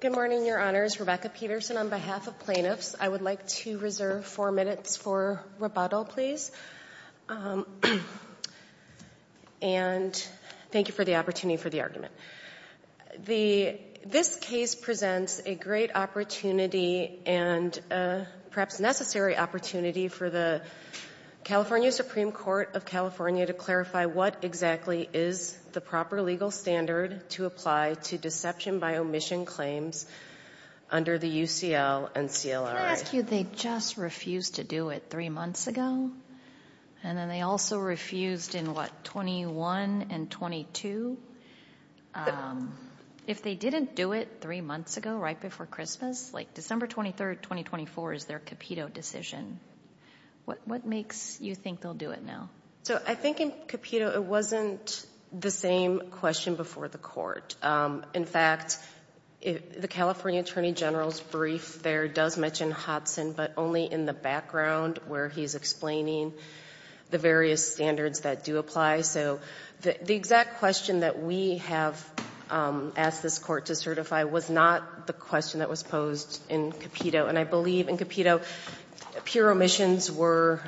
Good morning, Your Honors. Rebecca Peterson on behalf of plaintiffs. I would like to reserve four minutes for rebuttal, please. And thank you for the opportunity for the argument. This case presents a great opportunity and perhaps necessary opportunity for the California Supreme Court of California to clarify what exactly is the proper legal standard to apply to deception by omission claims under the UCL and CLRA. Can I ask you, they just refused to do it three months ago, and then they also refused in what, 21 and 22? If they didn't do it three months ago, right before Christmas, like December 23rd, 2024 is their capito decision. What makes you think they'll do it now? So I think in capito it wasn't the same question before the court. In fact, the California Attorney General's brief there does mention Hodson, but only in the background where he's explaining the various standards that do apply. So the exact question that we have asked this court to certify was not the question that was posed in capito. And I believe in capito pure omissions were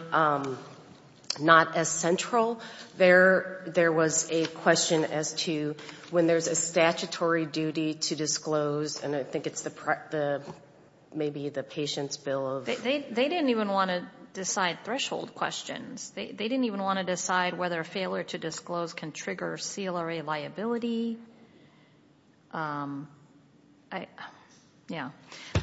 not as central. There was a question as to when there's a statutory duty to disclose, and I think it's maybe the patient's bill. They didn't even want to decide threshold questions. They didn't even want to decide whether a failure to disclose can trigger CLRA liability. Yeah.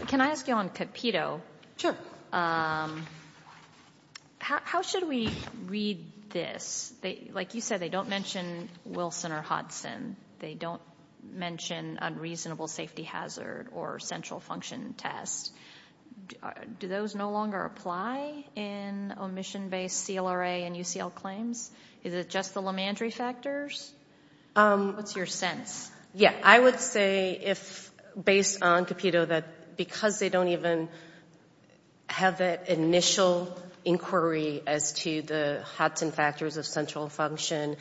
Can I ask you on capito? Sure. How should we read this? Like you said, they don't mention Wilson or Hodson. They don't mention unreasonable safety hazard or central function test. Do those no longer apply in omission-based CLRA and UCL claims? Is it just the Lemandry factors? What's your sense? I would say if, based on capito, that because they don't even have that initial inquiry as to the Hodson factors of central function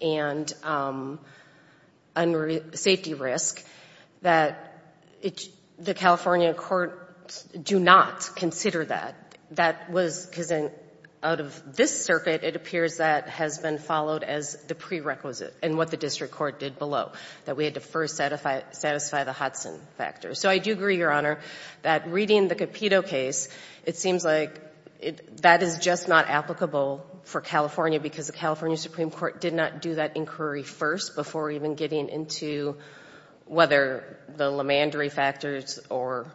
and safety risk, that the California courts do not consider that. Because out of this circuit, it appears that has been followed as the prerequisite in what the district court did below, that we had to first satisfy the Hodson factors. So I do agree, Your Honor, that reading the capito case, it seems like that is just not applicable for California because the California Supreme Court did not do that inquiry first before even getting into whether the Lemandry factors are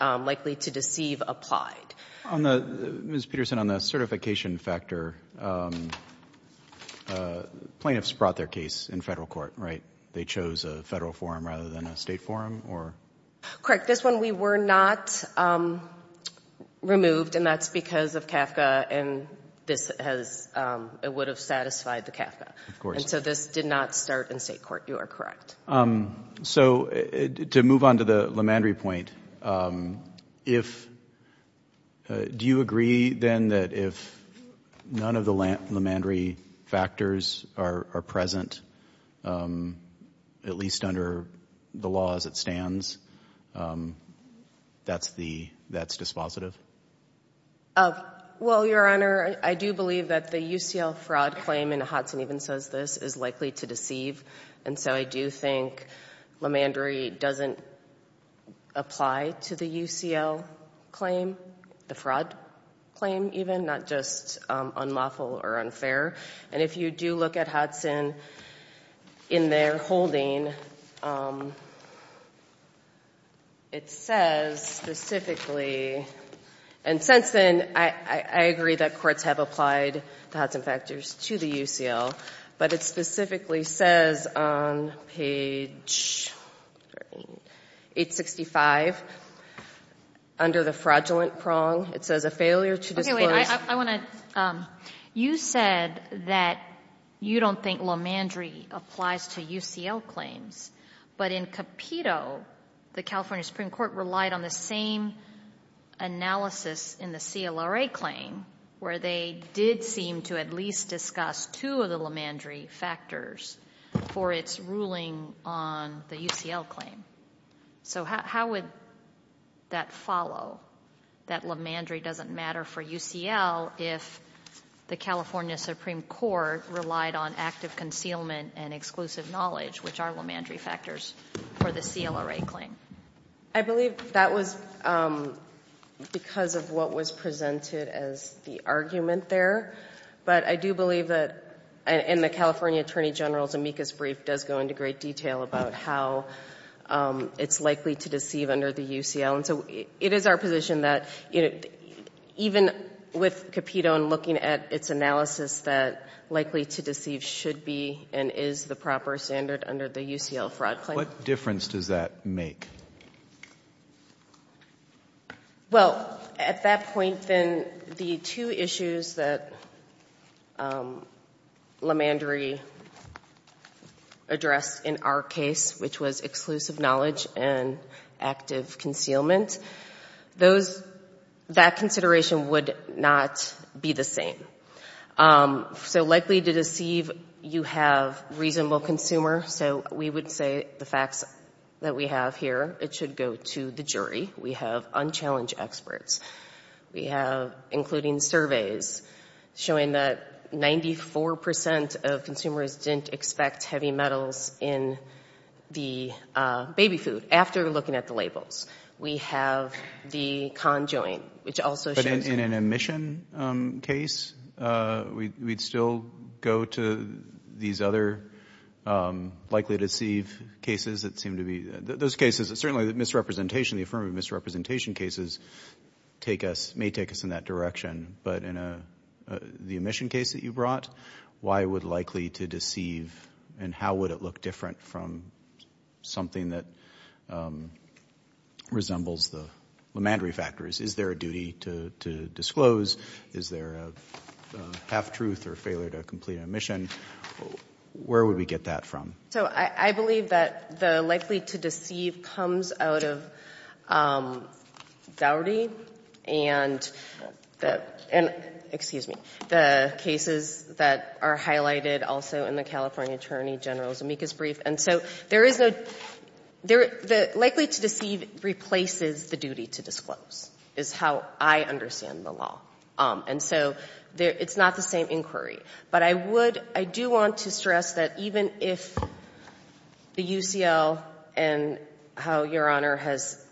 likely to deceive applied. Ms. Peterson, on the certification factor, plaintiffs brought their case in federal court, right? They chose a federal forum rather than a state forum? Correct. This one we were not removed, and that's because of CAFCA, and it would have satisfied the CAFCA. And so this did not start in state court. You are correct. So to move on to the Lemandry point, do you agree then that if none of the Lemandry factors are present, at least under the law as it stands, that's dispositive? Well, Your Honor, I do believe that the UCL fraud claim, and Hodson even says this, is likely to deceive. And so I do think Lemandry doesn't apply to the UCL claim, the fraud claim even, not just unlawful or unfair. And if you do look at Hodson in their holding, it says specifically, and since then, I agree that courts have applied the Hodson factors to the UCL, but it specifically says on page 865, under the fraudulent prong, it says a failure to disclose. Okay, wait, I want to, you said that you don't think Lemandry applies to UCL claims, but in Capito, the California Supreme Court relied on the same analysis in the CLRA claim, where they did seem to at least discuss two of the Lemandry factors for its ruling on the UCL claim. So how would that follow, that Lemandry doesn't matter for UCL if the California Supreme Court relied on active concealment and exclusive knowledge, which are Lemandry factors, for the CLRA claim? I believe that was because of what was presented as the argument there. But I do believe that, and the California Attorney General's amicus brief does go into great detail about how it's likely to deceive under the UCL. So it is our position that even with Capito and looking at its analysis, that likely to deceive should be and is the proper standard under the UCL fraud claim. What difference does that make? Well, at that point, then, the two issues that Lemandry addressed in our case, which was exclusive knowledge and active concealment, that consideration would not be the same. So likely to deceive, you have reasonable consumer. So we would say the facts that we have here, it should go to the jury. We have unchallenged experts. We have, including surveys, showing that 94% of consumers didn't expect heavy metals in the baby food after looking at the labels. We have the conjoint, which also shows— In an omission case, we'd still go to these other likely to deceive cases that seem to be— those cases, certainly the misrepresentation, the affirmative misrepresentation cases may take us in that direction. But in the omission case that you brought, why would likely to deceive, and how would it look different from something that resembles the Lemandry factors? Is there a duty to disclose? Is there a half-truth or failure to complete an omission? Where would we get that from? So I believe that the likely to deceive comes out of Dougherty and—excuse me— the cases that are highlighted also in the California Attorney General's amicus brief. And so there is no—the likely to deceive replaces the duty to disclose is how I understand the law. And so it's not the same inquiry. But I would—I do want to stress that even if the UCL and how Your Honor has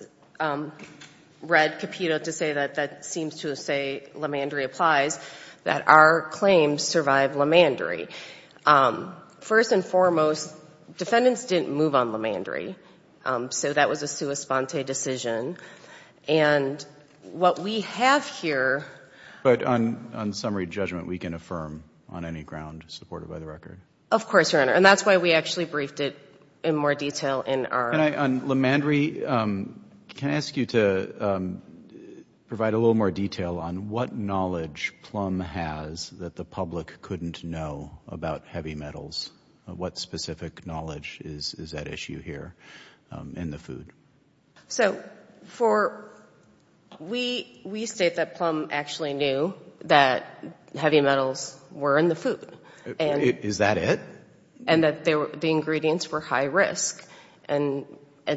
read Capito to say that that seems to say Lemandry applies, that our claims survive Lemandry. First and foremost, defendants didn't move on Lemandry. So that was a sua sponte decision. And what we have here— But on summary judgment, we can affirm on any ground supported by the record? Of course, Your Honor. And that's why we actually briefed it in more detail in our— On Lemandry, can I ask you to provide a little more detail on what knowledge Plum has that the public couldn't know about heavy metals? What specific knowledge is at issue here in the food? So for—we state that Plum actually knew that heavy metals were in the food. Is that it? And that the ingredients were high risk. And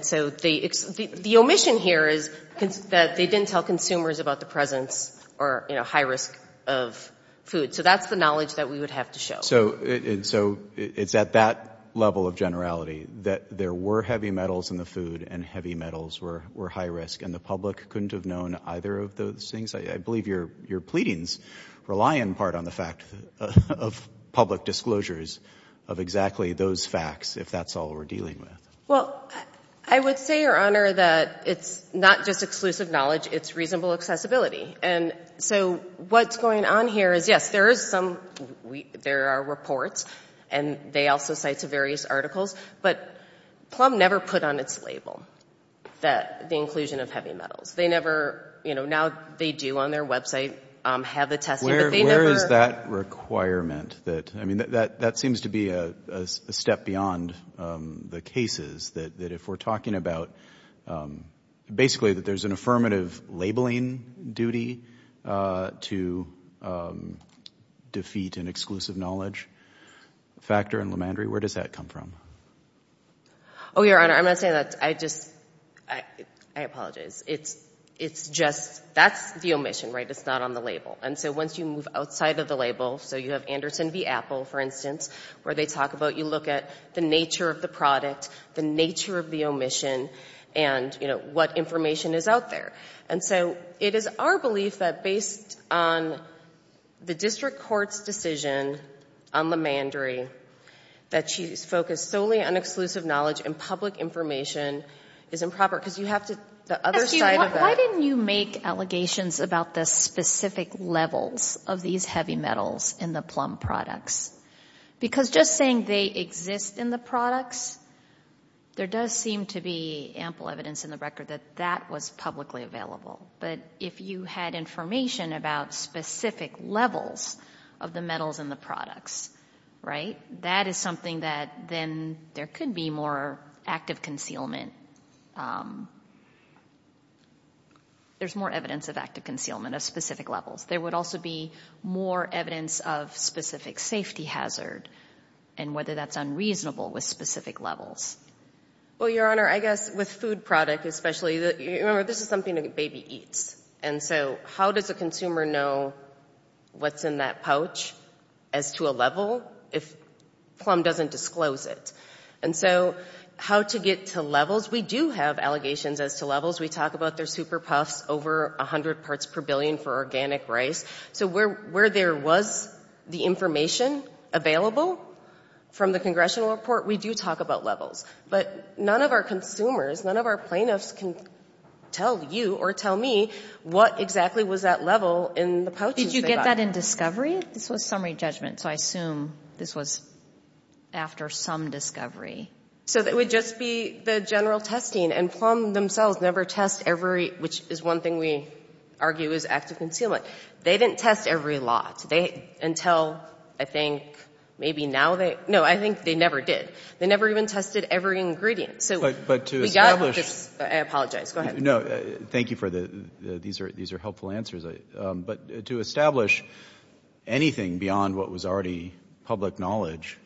so the omission here is that they didn't tell consumers about the presence or, you know, high risk of food. So that's the knowledge that we would have to show. So it's at that level of generality that there were heavy metals in the food and heavy metals were high risk, and the public couldn't have known either of those things? I believe your pleadings rely in part on the fact of public disclosures of exactly those facts, if that's all we're dealing with. Well, I would say, Your Honor, that it's not just exclusive knowledge. It's reasonable accessibility. And so what's going on here is, yes, there is some—there are reports, and they also cite various articles, but Plum never put on its label the inclusion of heavy metals. They never—you know, now they do on their website have the testing, but they never— Where is that requirement that—I mean, that seems to be a step beyond the cases, that if we're talking about basically that there's an affirmative labeling duty to defeat an exclusive knowledge factor in Lemandry, where does that come from? Oh, Your Honor, I'm not saying that. I just—I apologize. It's just—that's the omission, right? It's not on the label. And so once you move outside of the label—so you have Anderson v. Apple, for instance, where they talk about—you look at the nature of the product, the nature of the omission, and, you know, what information is out there. And so it is our belief that based on the district court's decision on Lemandry that she's focused solely on exclusive knowledge and public information is improper, because you have to—the other side of the— Why didn't you make allegations about the specific levels of these heavy metals in the plum products? Because just saying they exist in the products, there does seem to be ample evidence in the record that that was publicly available. But if you had information about specific levels of the metals in the products, right, that is something that then there could be more active concealment. There's more evidence of active concealment of specific levels. There would also be more evidence of specific safety hazard and whether that's unreasonable with specific levels. Well, Your Honor, I guess with food product especially, remember this is something a baby eats. And so how does a consumer know what's in that pouch as to a level if plum doesn't disclose it? And so how to get to levels? We do have allegations as to levels. We talk about their super puffs, over 100 parts per billion for organic rice. So where there was the information available from the congressional report, we do talk about levels. But none of our consumers, none of our plaintiffs can tell you or tell me what exactly was that level in the pouches they got. Did you get that in discovery? This was summary judgment, so I assume this was after some discovery. So it would just be the general testing. And plum themselves never test every, which is one thing we argue is active concealment. They didn't test every lot until I think maybe now they, no, I think they never did. They never even tested every ingredient. So we got this. I apologize. Go ahead. No, thank you for the, these are helpful answers. But to establish anything beyond what was already public knowledge,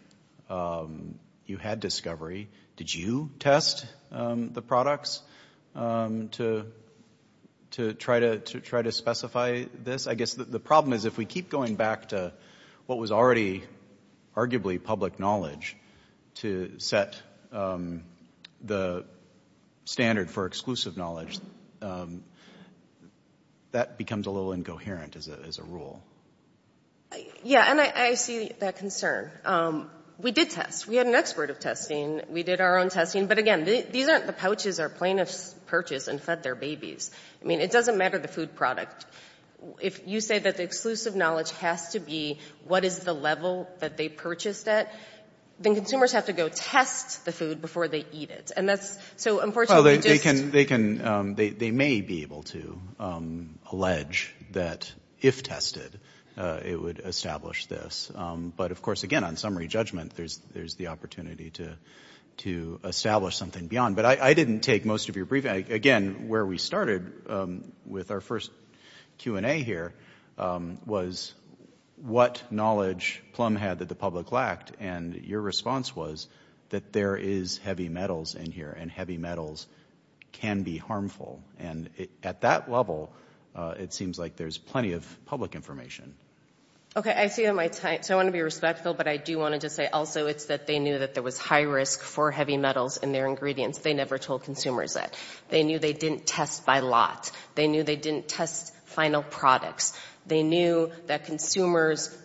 you had discovery. Did you test the products to try to specify this? I guess the problem is if we keep going back to what was already arguably public knowledge to set the standard for exclusive knowledge, that becomes a little incoherent as a rule. Yeah, and I see that concern. We did test. We had an expert of testing. We did our own testing. But again, these aren't the pouches our plaintiffs purchased and fed their babies. I mean, it doesn't matter the food product. If you say that the exclusive knowledge has to be what is the level that they purchased it, then consumers have to go test the food before they eat it. And that's, so unfortunately just they can, they may be able to allege that if tested, it would establish this. But of course, again, on summary judgment, there's the opportunity to establish something beyond. But I didn't take most of your briefing. Again, where we started with our first Q&A here was what knowledge Plum had that the public lacked. And your response was that there is heavy metals in here, and heavy metals can be harmful. And at that level, it seems like there's plenty of public information. Okay, I see that. So I want to be respectful, but I do want to just say also it's that they knew that there was high risk for heavy metals in their ingredients. They never told consumers that. They knew they didn't test by lot. They knew they didn't test final products. They knew that consumers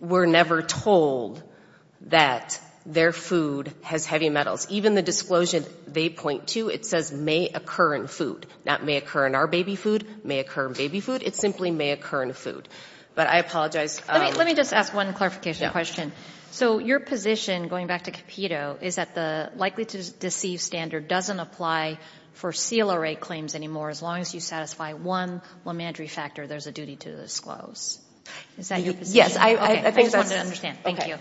were never told that their food has heavy metals. Even the disclosure they point to, it says may occur in food. That may occur in our baby food, may occur in baby food. It simply may occur in food. But I apologize. Let me just ask one clarification question. So your position, going back to Capito, is that the likely to deceive standard doesn't apply for CLRA claims anymore as long as you satisfy one lamentary factor there's a duty to disclose. Is that your position? Yes, I think that's. Okay, I just wanted to understand. Thank you.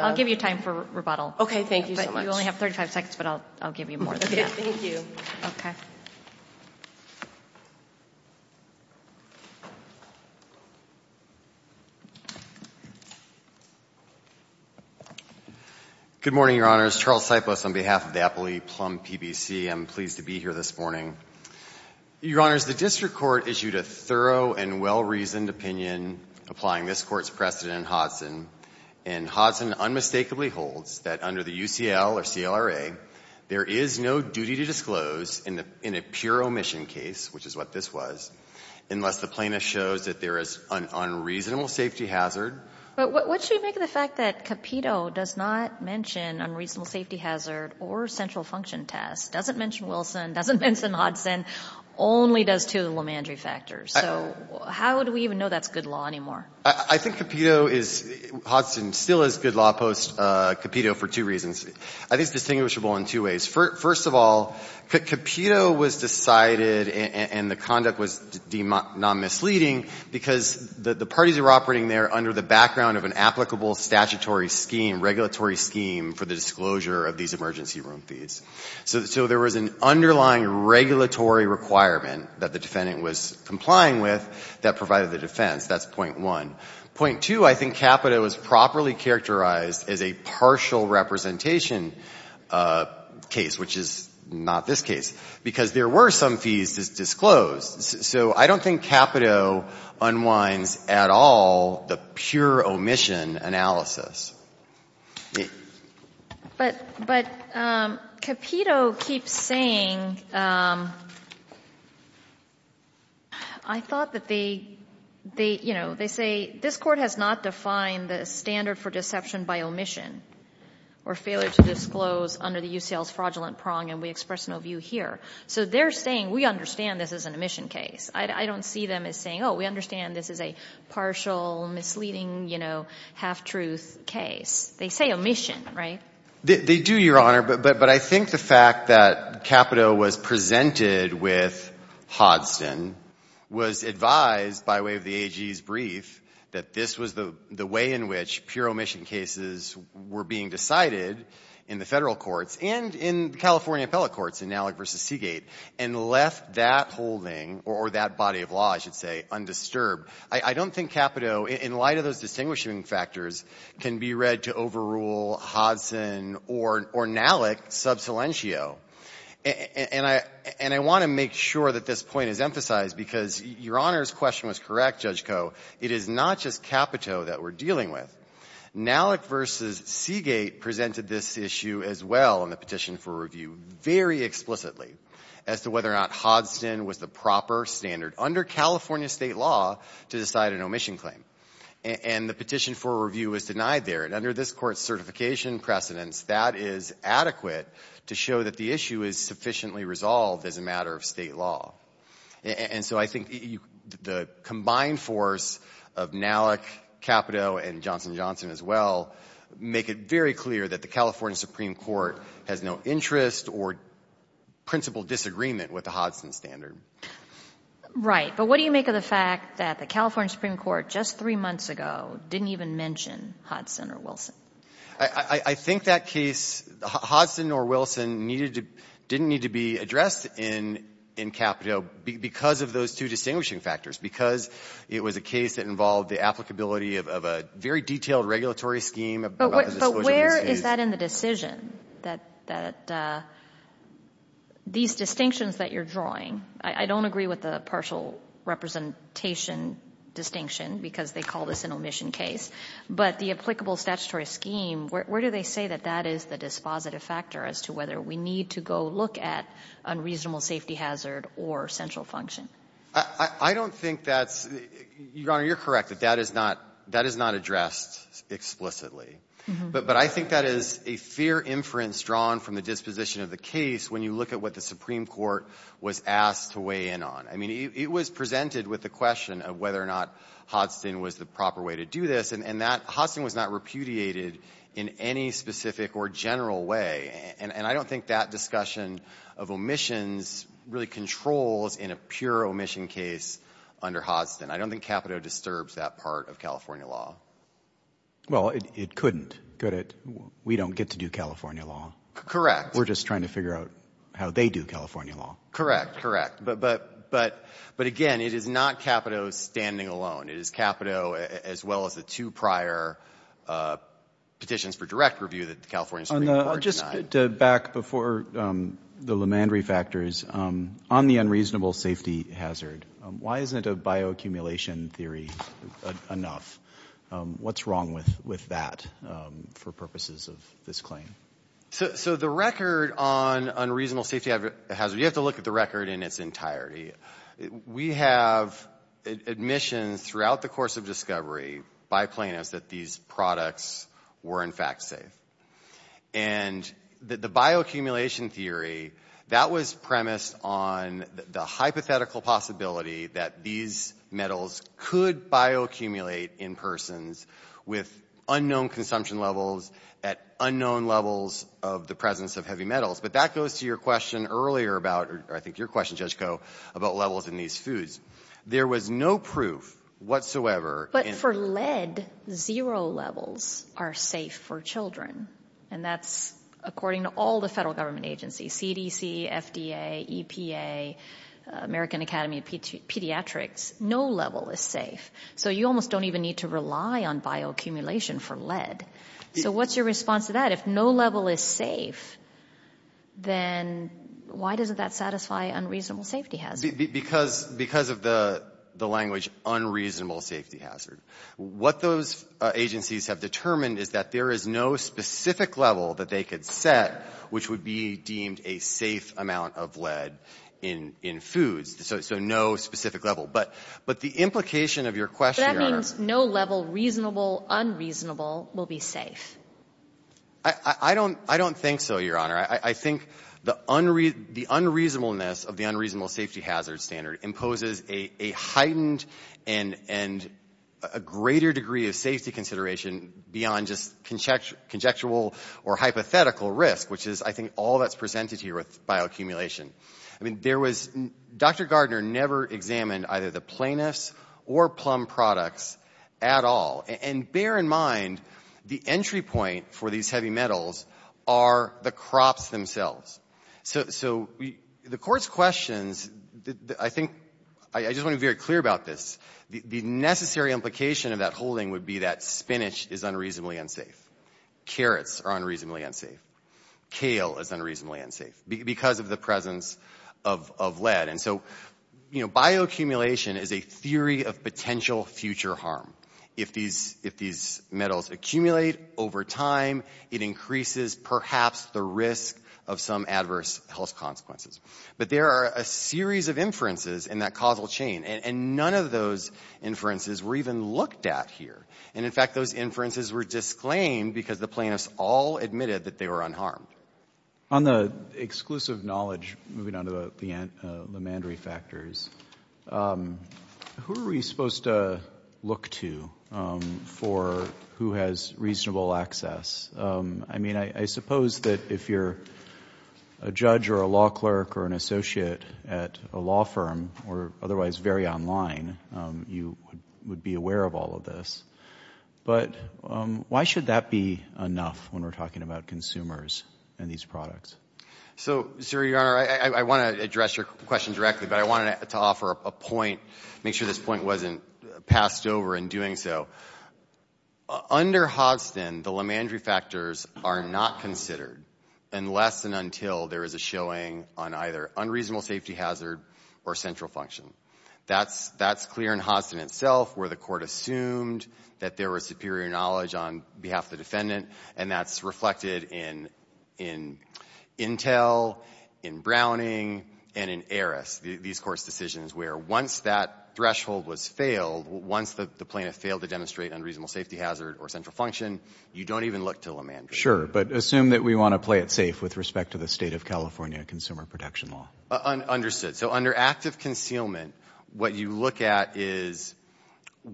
I'll give you time for rebuttal. Okay, thank you so much. You only have 35 seconds, but I'll give you more than that. Okay, thank you. Okay. Good morning, Your Honors. Charles Sipos on behalf of the Appley Plum PBC. I'm pleased to be here this morning. Your Honors, the district court issued a thorough and well-reasoned opinion applying this court's precedent in Hodson. And Hodson unmistakably holds that under the UCL or CLRA, there is no duty to disclose in a pure omission case, which is what this was, unless the plaintiff shows that there is an unreasonable safety hazard. But what should we make of the fact that Capito does not mention unreasonable safety hazard or central function test, doesn't mention Wilson, doesn't mention Hodson, only does two of the lamentary factors? So how would we even know that's good law anymore? I think Capito is, Hodson still is good law post Capito for two reasons. I think it's distinguishable in two ways. First of all, Capito was decided and the conduct was deemed non-misleading because the parties were operating there under the background of an applicable statutory scheme, regulatory scheme for the disclosure of these emergency room fees. So there was an underlying regulatory requirement that the defendant was complying with that provided the defense. That's point one. Point two, I think Capito is properly characterized as a partial representation case, which is not this case because there were some fees disclosed. So I don't think Capito unwinds at all the pure omission analysis. But Capito keeps saying, I thought that they, you know, they say this Court has not defined the standard for deception by omission or failure to disclose under the UCL's fraudulent prong and we express no view here. So they're saying we understand this is an omission case. I don't see them as saying, oh, we understand this is a partial, misleading, you know, half-truth case. They say omission, right? They do, Your Honor. But I think the fact that Capito was presented with Hodson was advised by way of the AG's brief that this was the way in which pure omission cases were being decided in the federal courts and in California appellate courts, in Nalick v. Seagate, and left that holding or that body of law, I should say, undisturbed. I don't think Capito, in light of those distinguishing factors, can be read to overrule Hodson or Nalick sub salientio. And I want to make sure that this point is emphasized because Your Honor's question was correct, Judge Koh. It is not just Capito that we're dealing with. Nalick v. Seagate presented this issue as well in the petition for review very explicitly as to whether or not Hodson was the proper standard under California state law to decide an omission claim. And the petition for review was denied there. And under this Court's certification precedence, that is adequate to show that the issue is sufficiently resolved as a matter of state law. And so I think the combined force of Nalick, Capito, and Johnson & Johnson as well make it very clear that the California Supreme Court has no interest or principal disagreement with the Hodson standard. Right. But what do you make of the fact that the California Supreme Court just three months ago didn't even mention Hodson or Wilson? I think that case, Hodson or Wilson, didn't need to be addressed in Capito because of those two distinguishing factors, because it was a case that involved the applicability of a very detailed regulatory scheme. But where is that in the decision that these distinctions that you're drawing, I don't agree with the partial representation distinction because they call this an omission case. But the applicable statutory scheme, where do they say that that is the dispositive factor as to whether we need to go look at unreasonable safety hazard or central function? I don't think that's — Your Honor, you're correct that that is not addressed explicitly. But I think that is a fair inference drawn from the disposition of the case when you look at what the Supreme Court was asked to weigh in on. I mean, it was presented with the question of whether or not Hodson was the proper way to do this. And that — Hodson was not repudiated in any specific or general way. And I don't think that discussion of omissions really controls in a pure omission case under Hodson. I don't think Capito disturbs that part of California law. Well, it couldn't, could it? We don't get to do California law. Correct. We're just trying to figure out how they do California law. Correct, correct. But, again, it is not Capito standing alone. It is Capito as well as the two prior petitions for direct review that the California Supreme Court denied. I'll just get back before the LeMandry factors. On the unreasonable safety hazard, why isn't a bioaccumulation theory enough? What's wrong with that for purposes of this claim? So the record on unreasonable safety hazard, you have to look at the record in its entirety. We have admissions throughout the course of discovery by plaintiffs that these products were, in fact, safe. And the bioaccumulation theory, that was premised on the hypothetical possibility that these metals could bioaccumulate in persons with unknown consumption levels at unknown levels of the presence of heavy metals. But that goes to your question earlier about, or I think your question, Judge Koh, about levels in these foods. There was no proof whatsoever. But for lead, zero levels are safe for children. And that's according to all the federal government agencies, CDC, FDA, EPA, American Academy of Pediatrics, no level is safe. So you almost don't even need to rely on bioaccumulation for lead. So what's your response to that? If no level is safe, then why doesn't that satisfy unreasonable safety hazard? Because of the language unreasonable safety hazard. What those agencies have determined is that there is no specific level that they could set which would be deemed a safe amount of lead in foods. So no specific level. But the implication of your question is no level reasonable, unreasonable will be safe. I don't think so, Your Honor. I think the unreasonableness of the unreasonable safety hazard standard imposes a heightened and a greater degree of safety consideration beyond just conjectural or hypothetical risk, which is, I think, all that's presented here with bioaccumulation. Dr. Gardner never examined either the plaintiffs or plum products at all. And bear in mind, the entry point for these heavy metals are the crops themselves. So the Court's questions, I think, I just want to be very clear about this. The necessary implication of that holding would be that spinach is unreasonably unsafe. Carrots are unreasonably unsafe. Kale is unreasonably unsafe because of the presence of lead. And so, you know, bioaccumulation is a theory of potential future harm. If these metals accumulate over time, it increases perhaps the risk of some adverse health consequences. But there are a series of inferences in that causal chain. And none of those inferences were even looked at here. And, in fact, those inferences were disclaimed because the plaintiffs all admitted that they were unharmed. On the exclusive knowledge, moving on to the lamandry factors, who are we supposed to look to for who has reasonable access? I mean, I suppose that if you're a judge or a law clerk or an associate at a law firm, or otherwise very online, you would be aware of all of this. But why should that be enough when we're talking about consumers and these products? So, sir, Your Honor, I want to address your question directly, but I wanted to offer a point, make sure this point wasn't passed over in doing so. Under Hodgson, the lamandry factors are not considered unless and until there is a showing on either unreasonable safety hazard or central function. That's clear in Hodgson itself, where the court assumed that there was superior knowledge on behalf of the defendant, and that's reflected in Intel, in Browning, and in Eris, these court's decisions, where once that threshold was failed, once the plaintiff failed to demonstrate unreasonable safety hazard or central function, you don't even look to lamandry. Sure, but assume that we want to play it safe with respect to the State of California consumer protection law. Understood. So under active concealment, what you look at is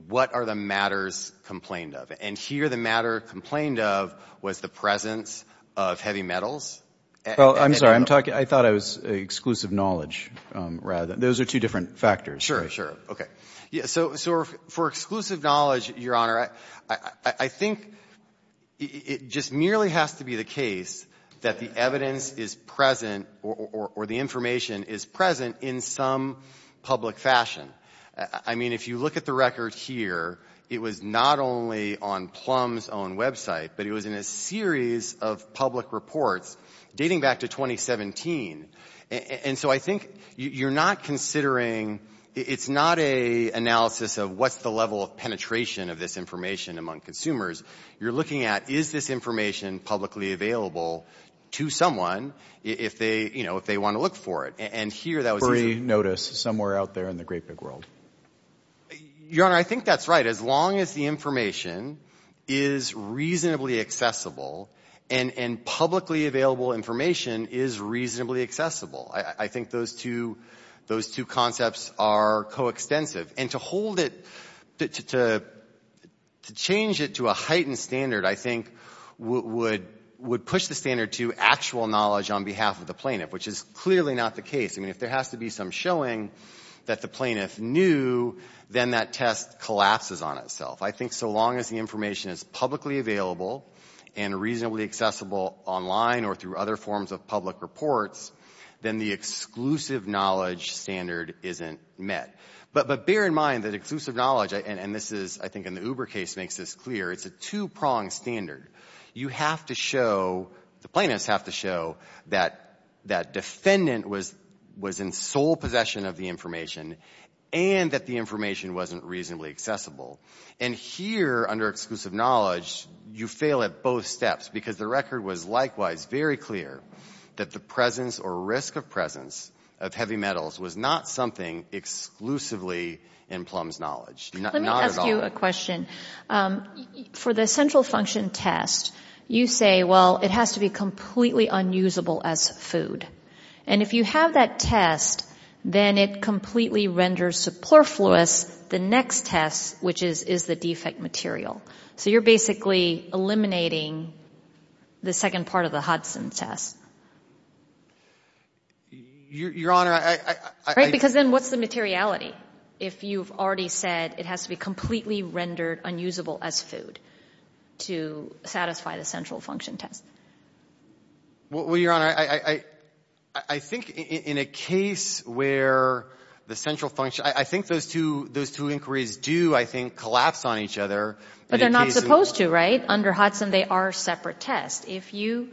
what are the matters complained of. And here the matter complained of was the presence of heavy metals. Well, I'm sorry. I'm talking — I thought I was exclusive knowledge rather. Those are two different factors. Sure, sure. Okay. So for exclusive knowledge, Your Honor, I think it just merely has to be the case that the evidence is present or the information is present in some public fashion. I mean, if you look at the record here, it was not only on Plum's own website, but it was in a series of public reports dating back to 2017. And so I think you're not considering — it's not an analysis of what's the level of penetration of this information among consumers. You're looking at is this information publicly available to someone if they want to look for it. And here that was — Free notice somewhere out there in the great big world. Your Honor, I think that's right. As long as the information is reasonably accessible and publicly available information is reasonably accessible, I think those two concepts are coextensive. And to hold it — to change it to a heightened standard, I think, would push the standard to actual knowledge on behalf of the plaintiff, which is clearly not the case. I mean, if there has to be some showing that the plaintiff knew, then that test collapses on itself. I think so long as the information is publicly available and reasonably accessible online or through other forms of public reports, then the exclusive knowledge standard isn't met. But bear in mind that exclusive knowledge, and this is — I think in the Uber case makes this clear, it's a two-pronged standard. You have to show — the plaintiffs have to show that that defendant was in sole possession of the information and that the information wasn't reasonably accessible. And here under exclusive knowledge, you fail at both steps because the record was likewise very clear that the presence or risk of presence of heavy metals was not something exclusively in Plum's knowledge. Not at all. Let me ask you a question. For the central function test, you say, well, it has to be completely unusable as food. And if you have that test, then it completely renders superfluous the next test, which is, is the defect material. So you're basically eliminating the second part of the Hudson test. Your Honor, I — Right? Because then what's the materiality if you've already said it has to be completely rendered unusable as food to satisfy the central function test? Well, Your Honor, I think in a case where the central function — I think those two inquiries do, I think, collapse on each other. But they're not supposed to, right? Under Hudson, they are separate tests. If you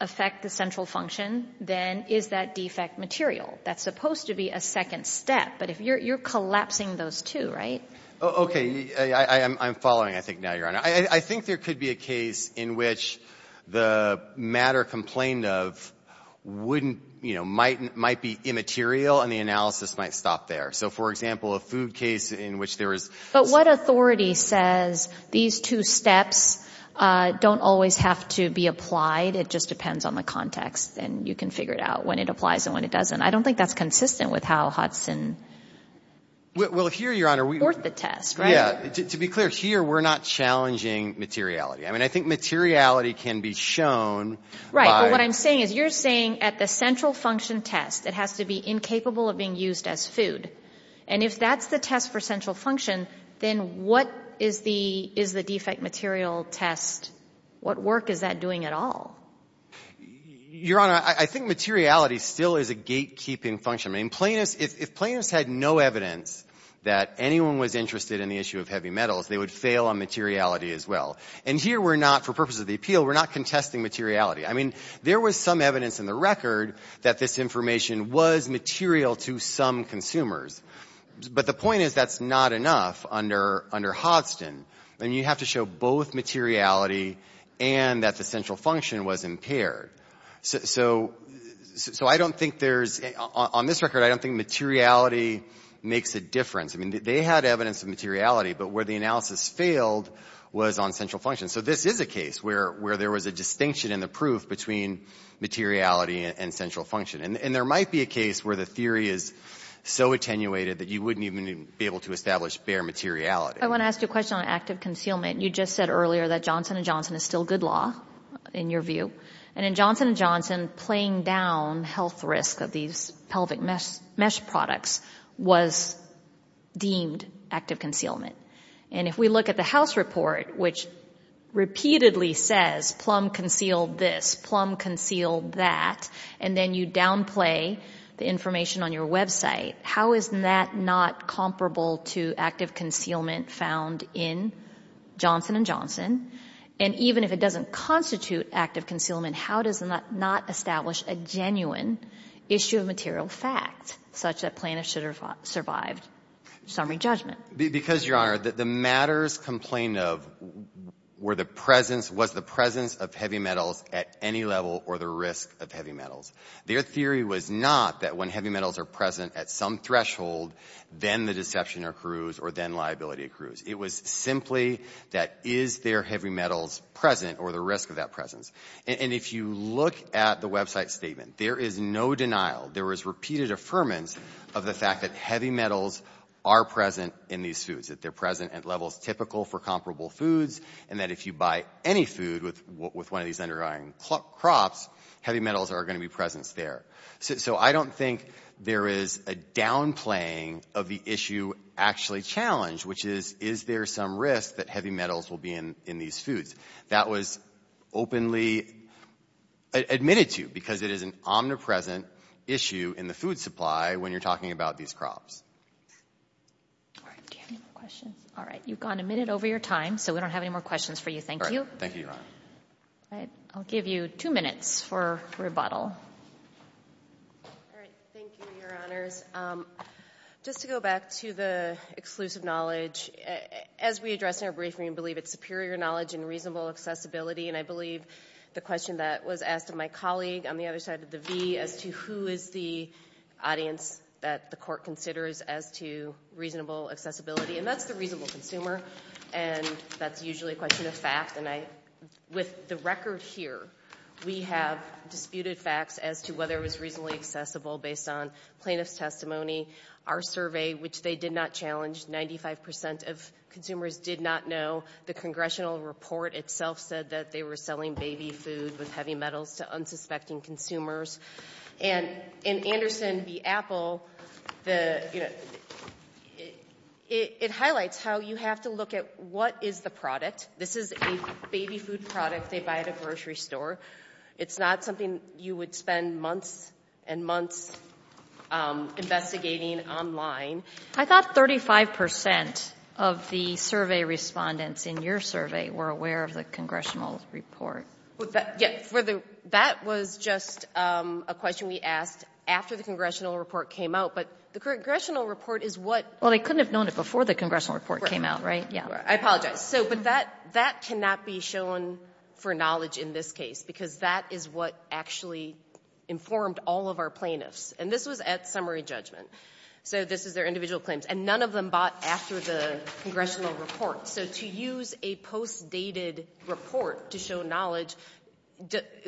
affect the central function, then is that defect material? That's supposed to be a second step. But you're collapsing those two, right? Okay. I'm following, I think, now, Your Honor. I think there could be a case in which the matter complained of wouldn't — you know, might be immaterial and the analysis might stop there. So, for example, a food case in which there is — But what authority says these two steps don't always have to be applied? It just depends on the context, and you can figure it out when it applies and when it doesn't. I don't think that's consistent with how Hudson supports the test, right? Well, here, Your Honor, to be clear, here we're not challenging materiality. I mean, I think materiality can be shown by — But what I'm saying is you're saying at the central function test it has to be incapable of being used as food. And if that's the test for central function, then what is the defect material test? What work is that doing at all? Your Honor, I think materiality still is a gatekeeping function. I mean, if plaintiffs had no evidence that anyone was interested in the issue of heavy metals, they would fail on materiality as well. And here we're not, for purposes of the appeal, we're not contesting materiality. I mean, there was some evidence in the record that this information was material to some consumers. But the point is that's not enough under Hodson. I mean, you have to show both materiality and that the central function was impaired. So I don't think there's — on this record, I don't think materiality makes a difference. I mean, they had evidence of materiality, but where the analysis failed was on central function. So this is a case where there was a distinction in the proof between materiality and central function. And there might be a case where the theory is so attenuated that you wouldn't even be able to establish bare materiality. I want to ask you a question on active concealment. You just said earlier that Johnson & Johnson is still good law, in your view. And in Johnson & Johnson, playing down health risk of these pelvic mesh products was deemed active concealment. And if we look at the House report, which repeatedly says Plum concealed this, Plum concealed that, and then you downplay the information on your website, how is that not comparable to active concealment found in Johnson & Johnson? And even if it doesn't constitute active concealment, how does that not establish a genuine issue of material fact, such that plaintiffs should have survived summary judgment? Because, Your Honor, the matters complained of were the presence of heavy metals at any level or the risk of heavy metals. Their theory was not that when heavy metals are present at some threshold, then the deception accrues or then liability accrues. It was simply that is there heavy metals present or the risk of that presence? And if you look at the website statement, there is no denial. There is repeated affirmance of the fact that heavy metals are present in these foods, that they're present at levels typical for comparable foods, and that if you buy any food with one of these underlying crops, heavy metals are going to be present there. So I don't think there is a downplaying of the issue actually challenged, which is, is there some risk that heavy metals will be in these foods? That was openly admitted to because it is an omnipresent issue in the food supply when you're talking about these crops. Do you have any more questions? All right. You've gone a minute over your time, so we don't have any more questions for you. Thank you. Thank you, Your Honor. All right. I'll give you two minutes for rebuttal. All right. Thank you, Your Honors. Just to go back to the exclusive knowledge, as we addressed in our briefing, we believe it's superior knowledge and reasonable accessibility, and I believe the question that was asked of my colleague on the other side of the v as to who is the audience that the court considers as to reasonable accessibility, and that's the reasonable consumer, and that's usually a question of fact. And with the record here, we have disputed facts as to whether it was reasonably accessible based on plaintiff's testimony, our survey, which they did not challenge. Ninety-five percent of consumers did not know. The congressional report itself said that they were selling baby food with heavy metals to unsuspecting consumers. And in Anderson v. Apple, it highlights how you have to look at what is the product. This is a baby food product they buy at a grocery store. It's not something you would spend months and months investigating online. I thought 35 percent of the survey respondents in your survey were aware of the congressional report. That was just a question we asked after the congressional report came out. But the congressional report is what — Well, they couldn't have known it before the congressional report came out, right? I apologize. But that cannot be shown for knowledge in this case because that is what actually informed all of our plaintiffs. And this was at summary judgment. So this is their individual claims. And none of them bought after the congressional report. So to use a post-dated report to show knowledge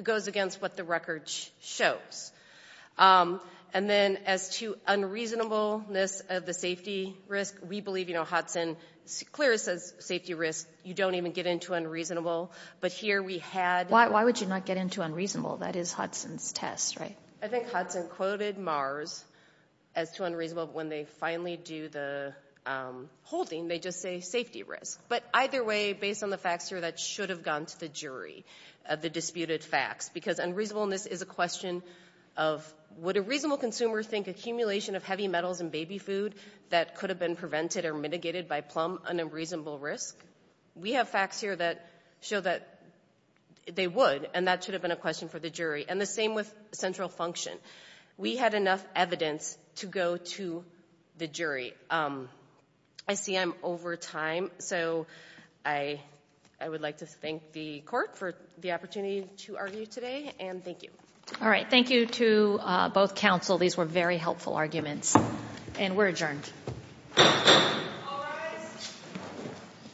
goes against what the record shows. And then as to unreasonableness of the safety risk, we believe, you know, Hudson — Clear as safety risk, you don't even get into unreasonable. But here we had — Why would you not get into unreasonable? That is Hudson's test, right? I think Hudson quoted Mars as too unreasonable. But when they finally do the holding, they just say safety risk. But either way, based on the facts here, that should have gone to the jury of the disputed facts. Because unreasonableness is a question of would a reasonable consumer think accumulation of heavy metals in baby food that could have been prevented or mitigated by plum an unreasonable risk? We have facts here that show that they would. And that should have been a question for the jury. And the same with central function. We had enough evidence to go to the jury. I see I'm over time. So I would like to thank the court for the opportunity to argue today. And thank you. All right. Thank you to both counsel. These were very helpful arguments. And we're adjourned.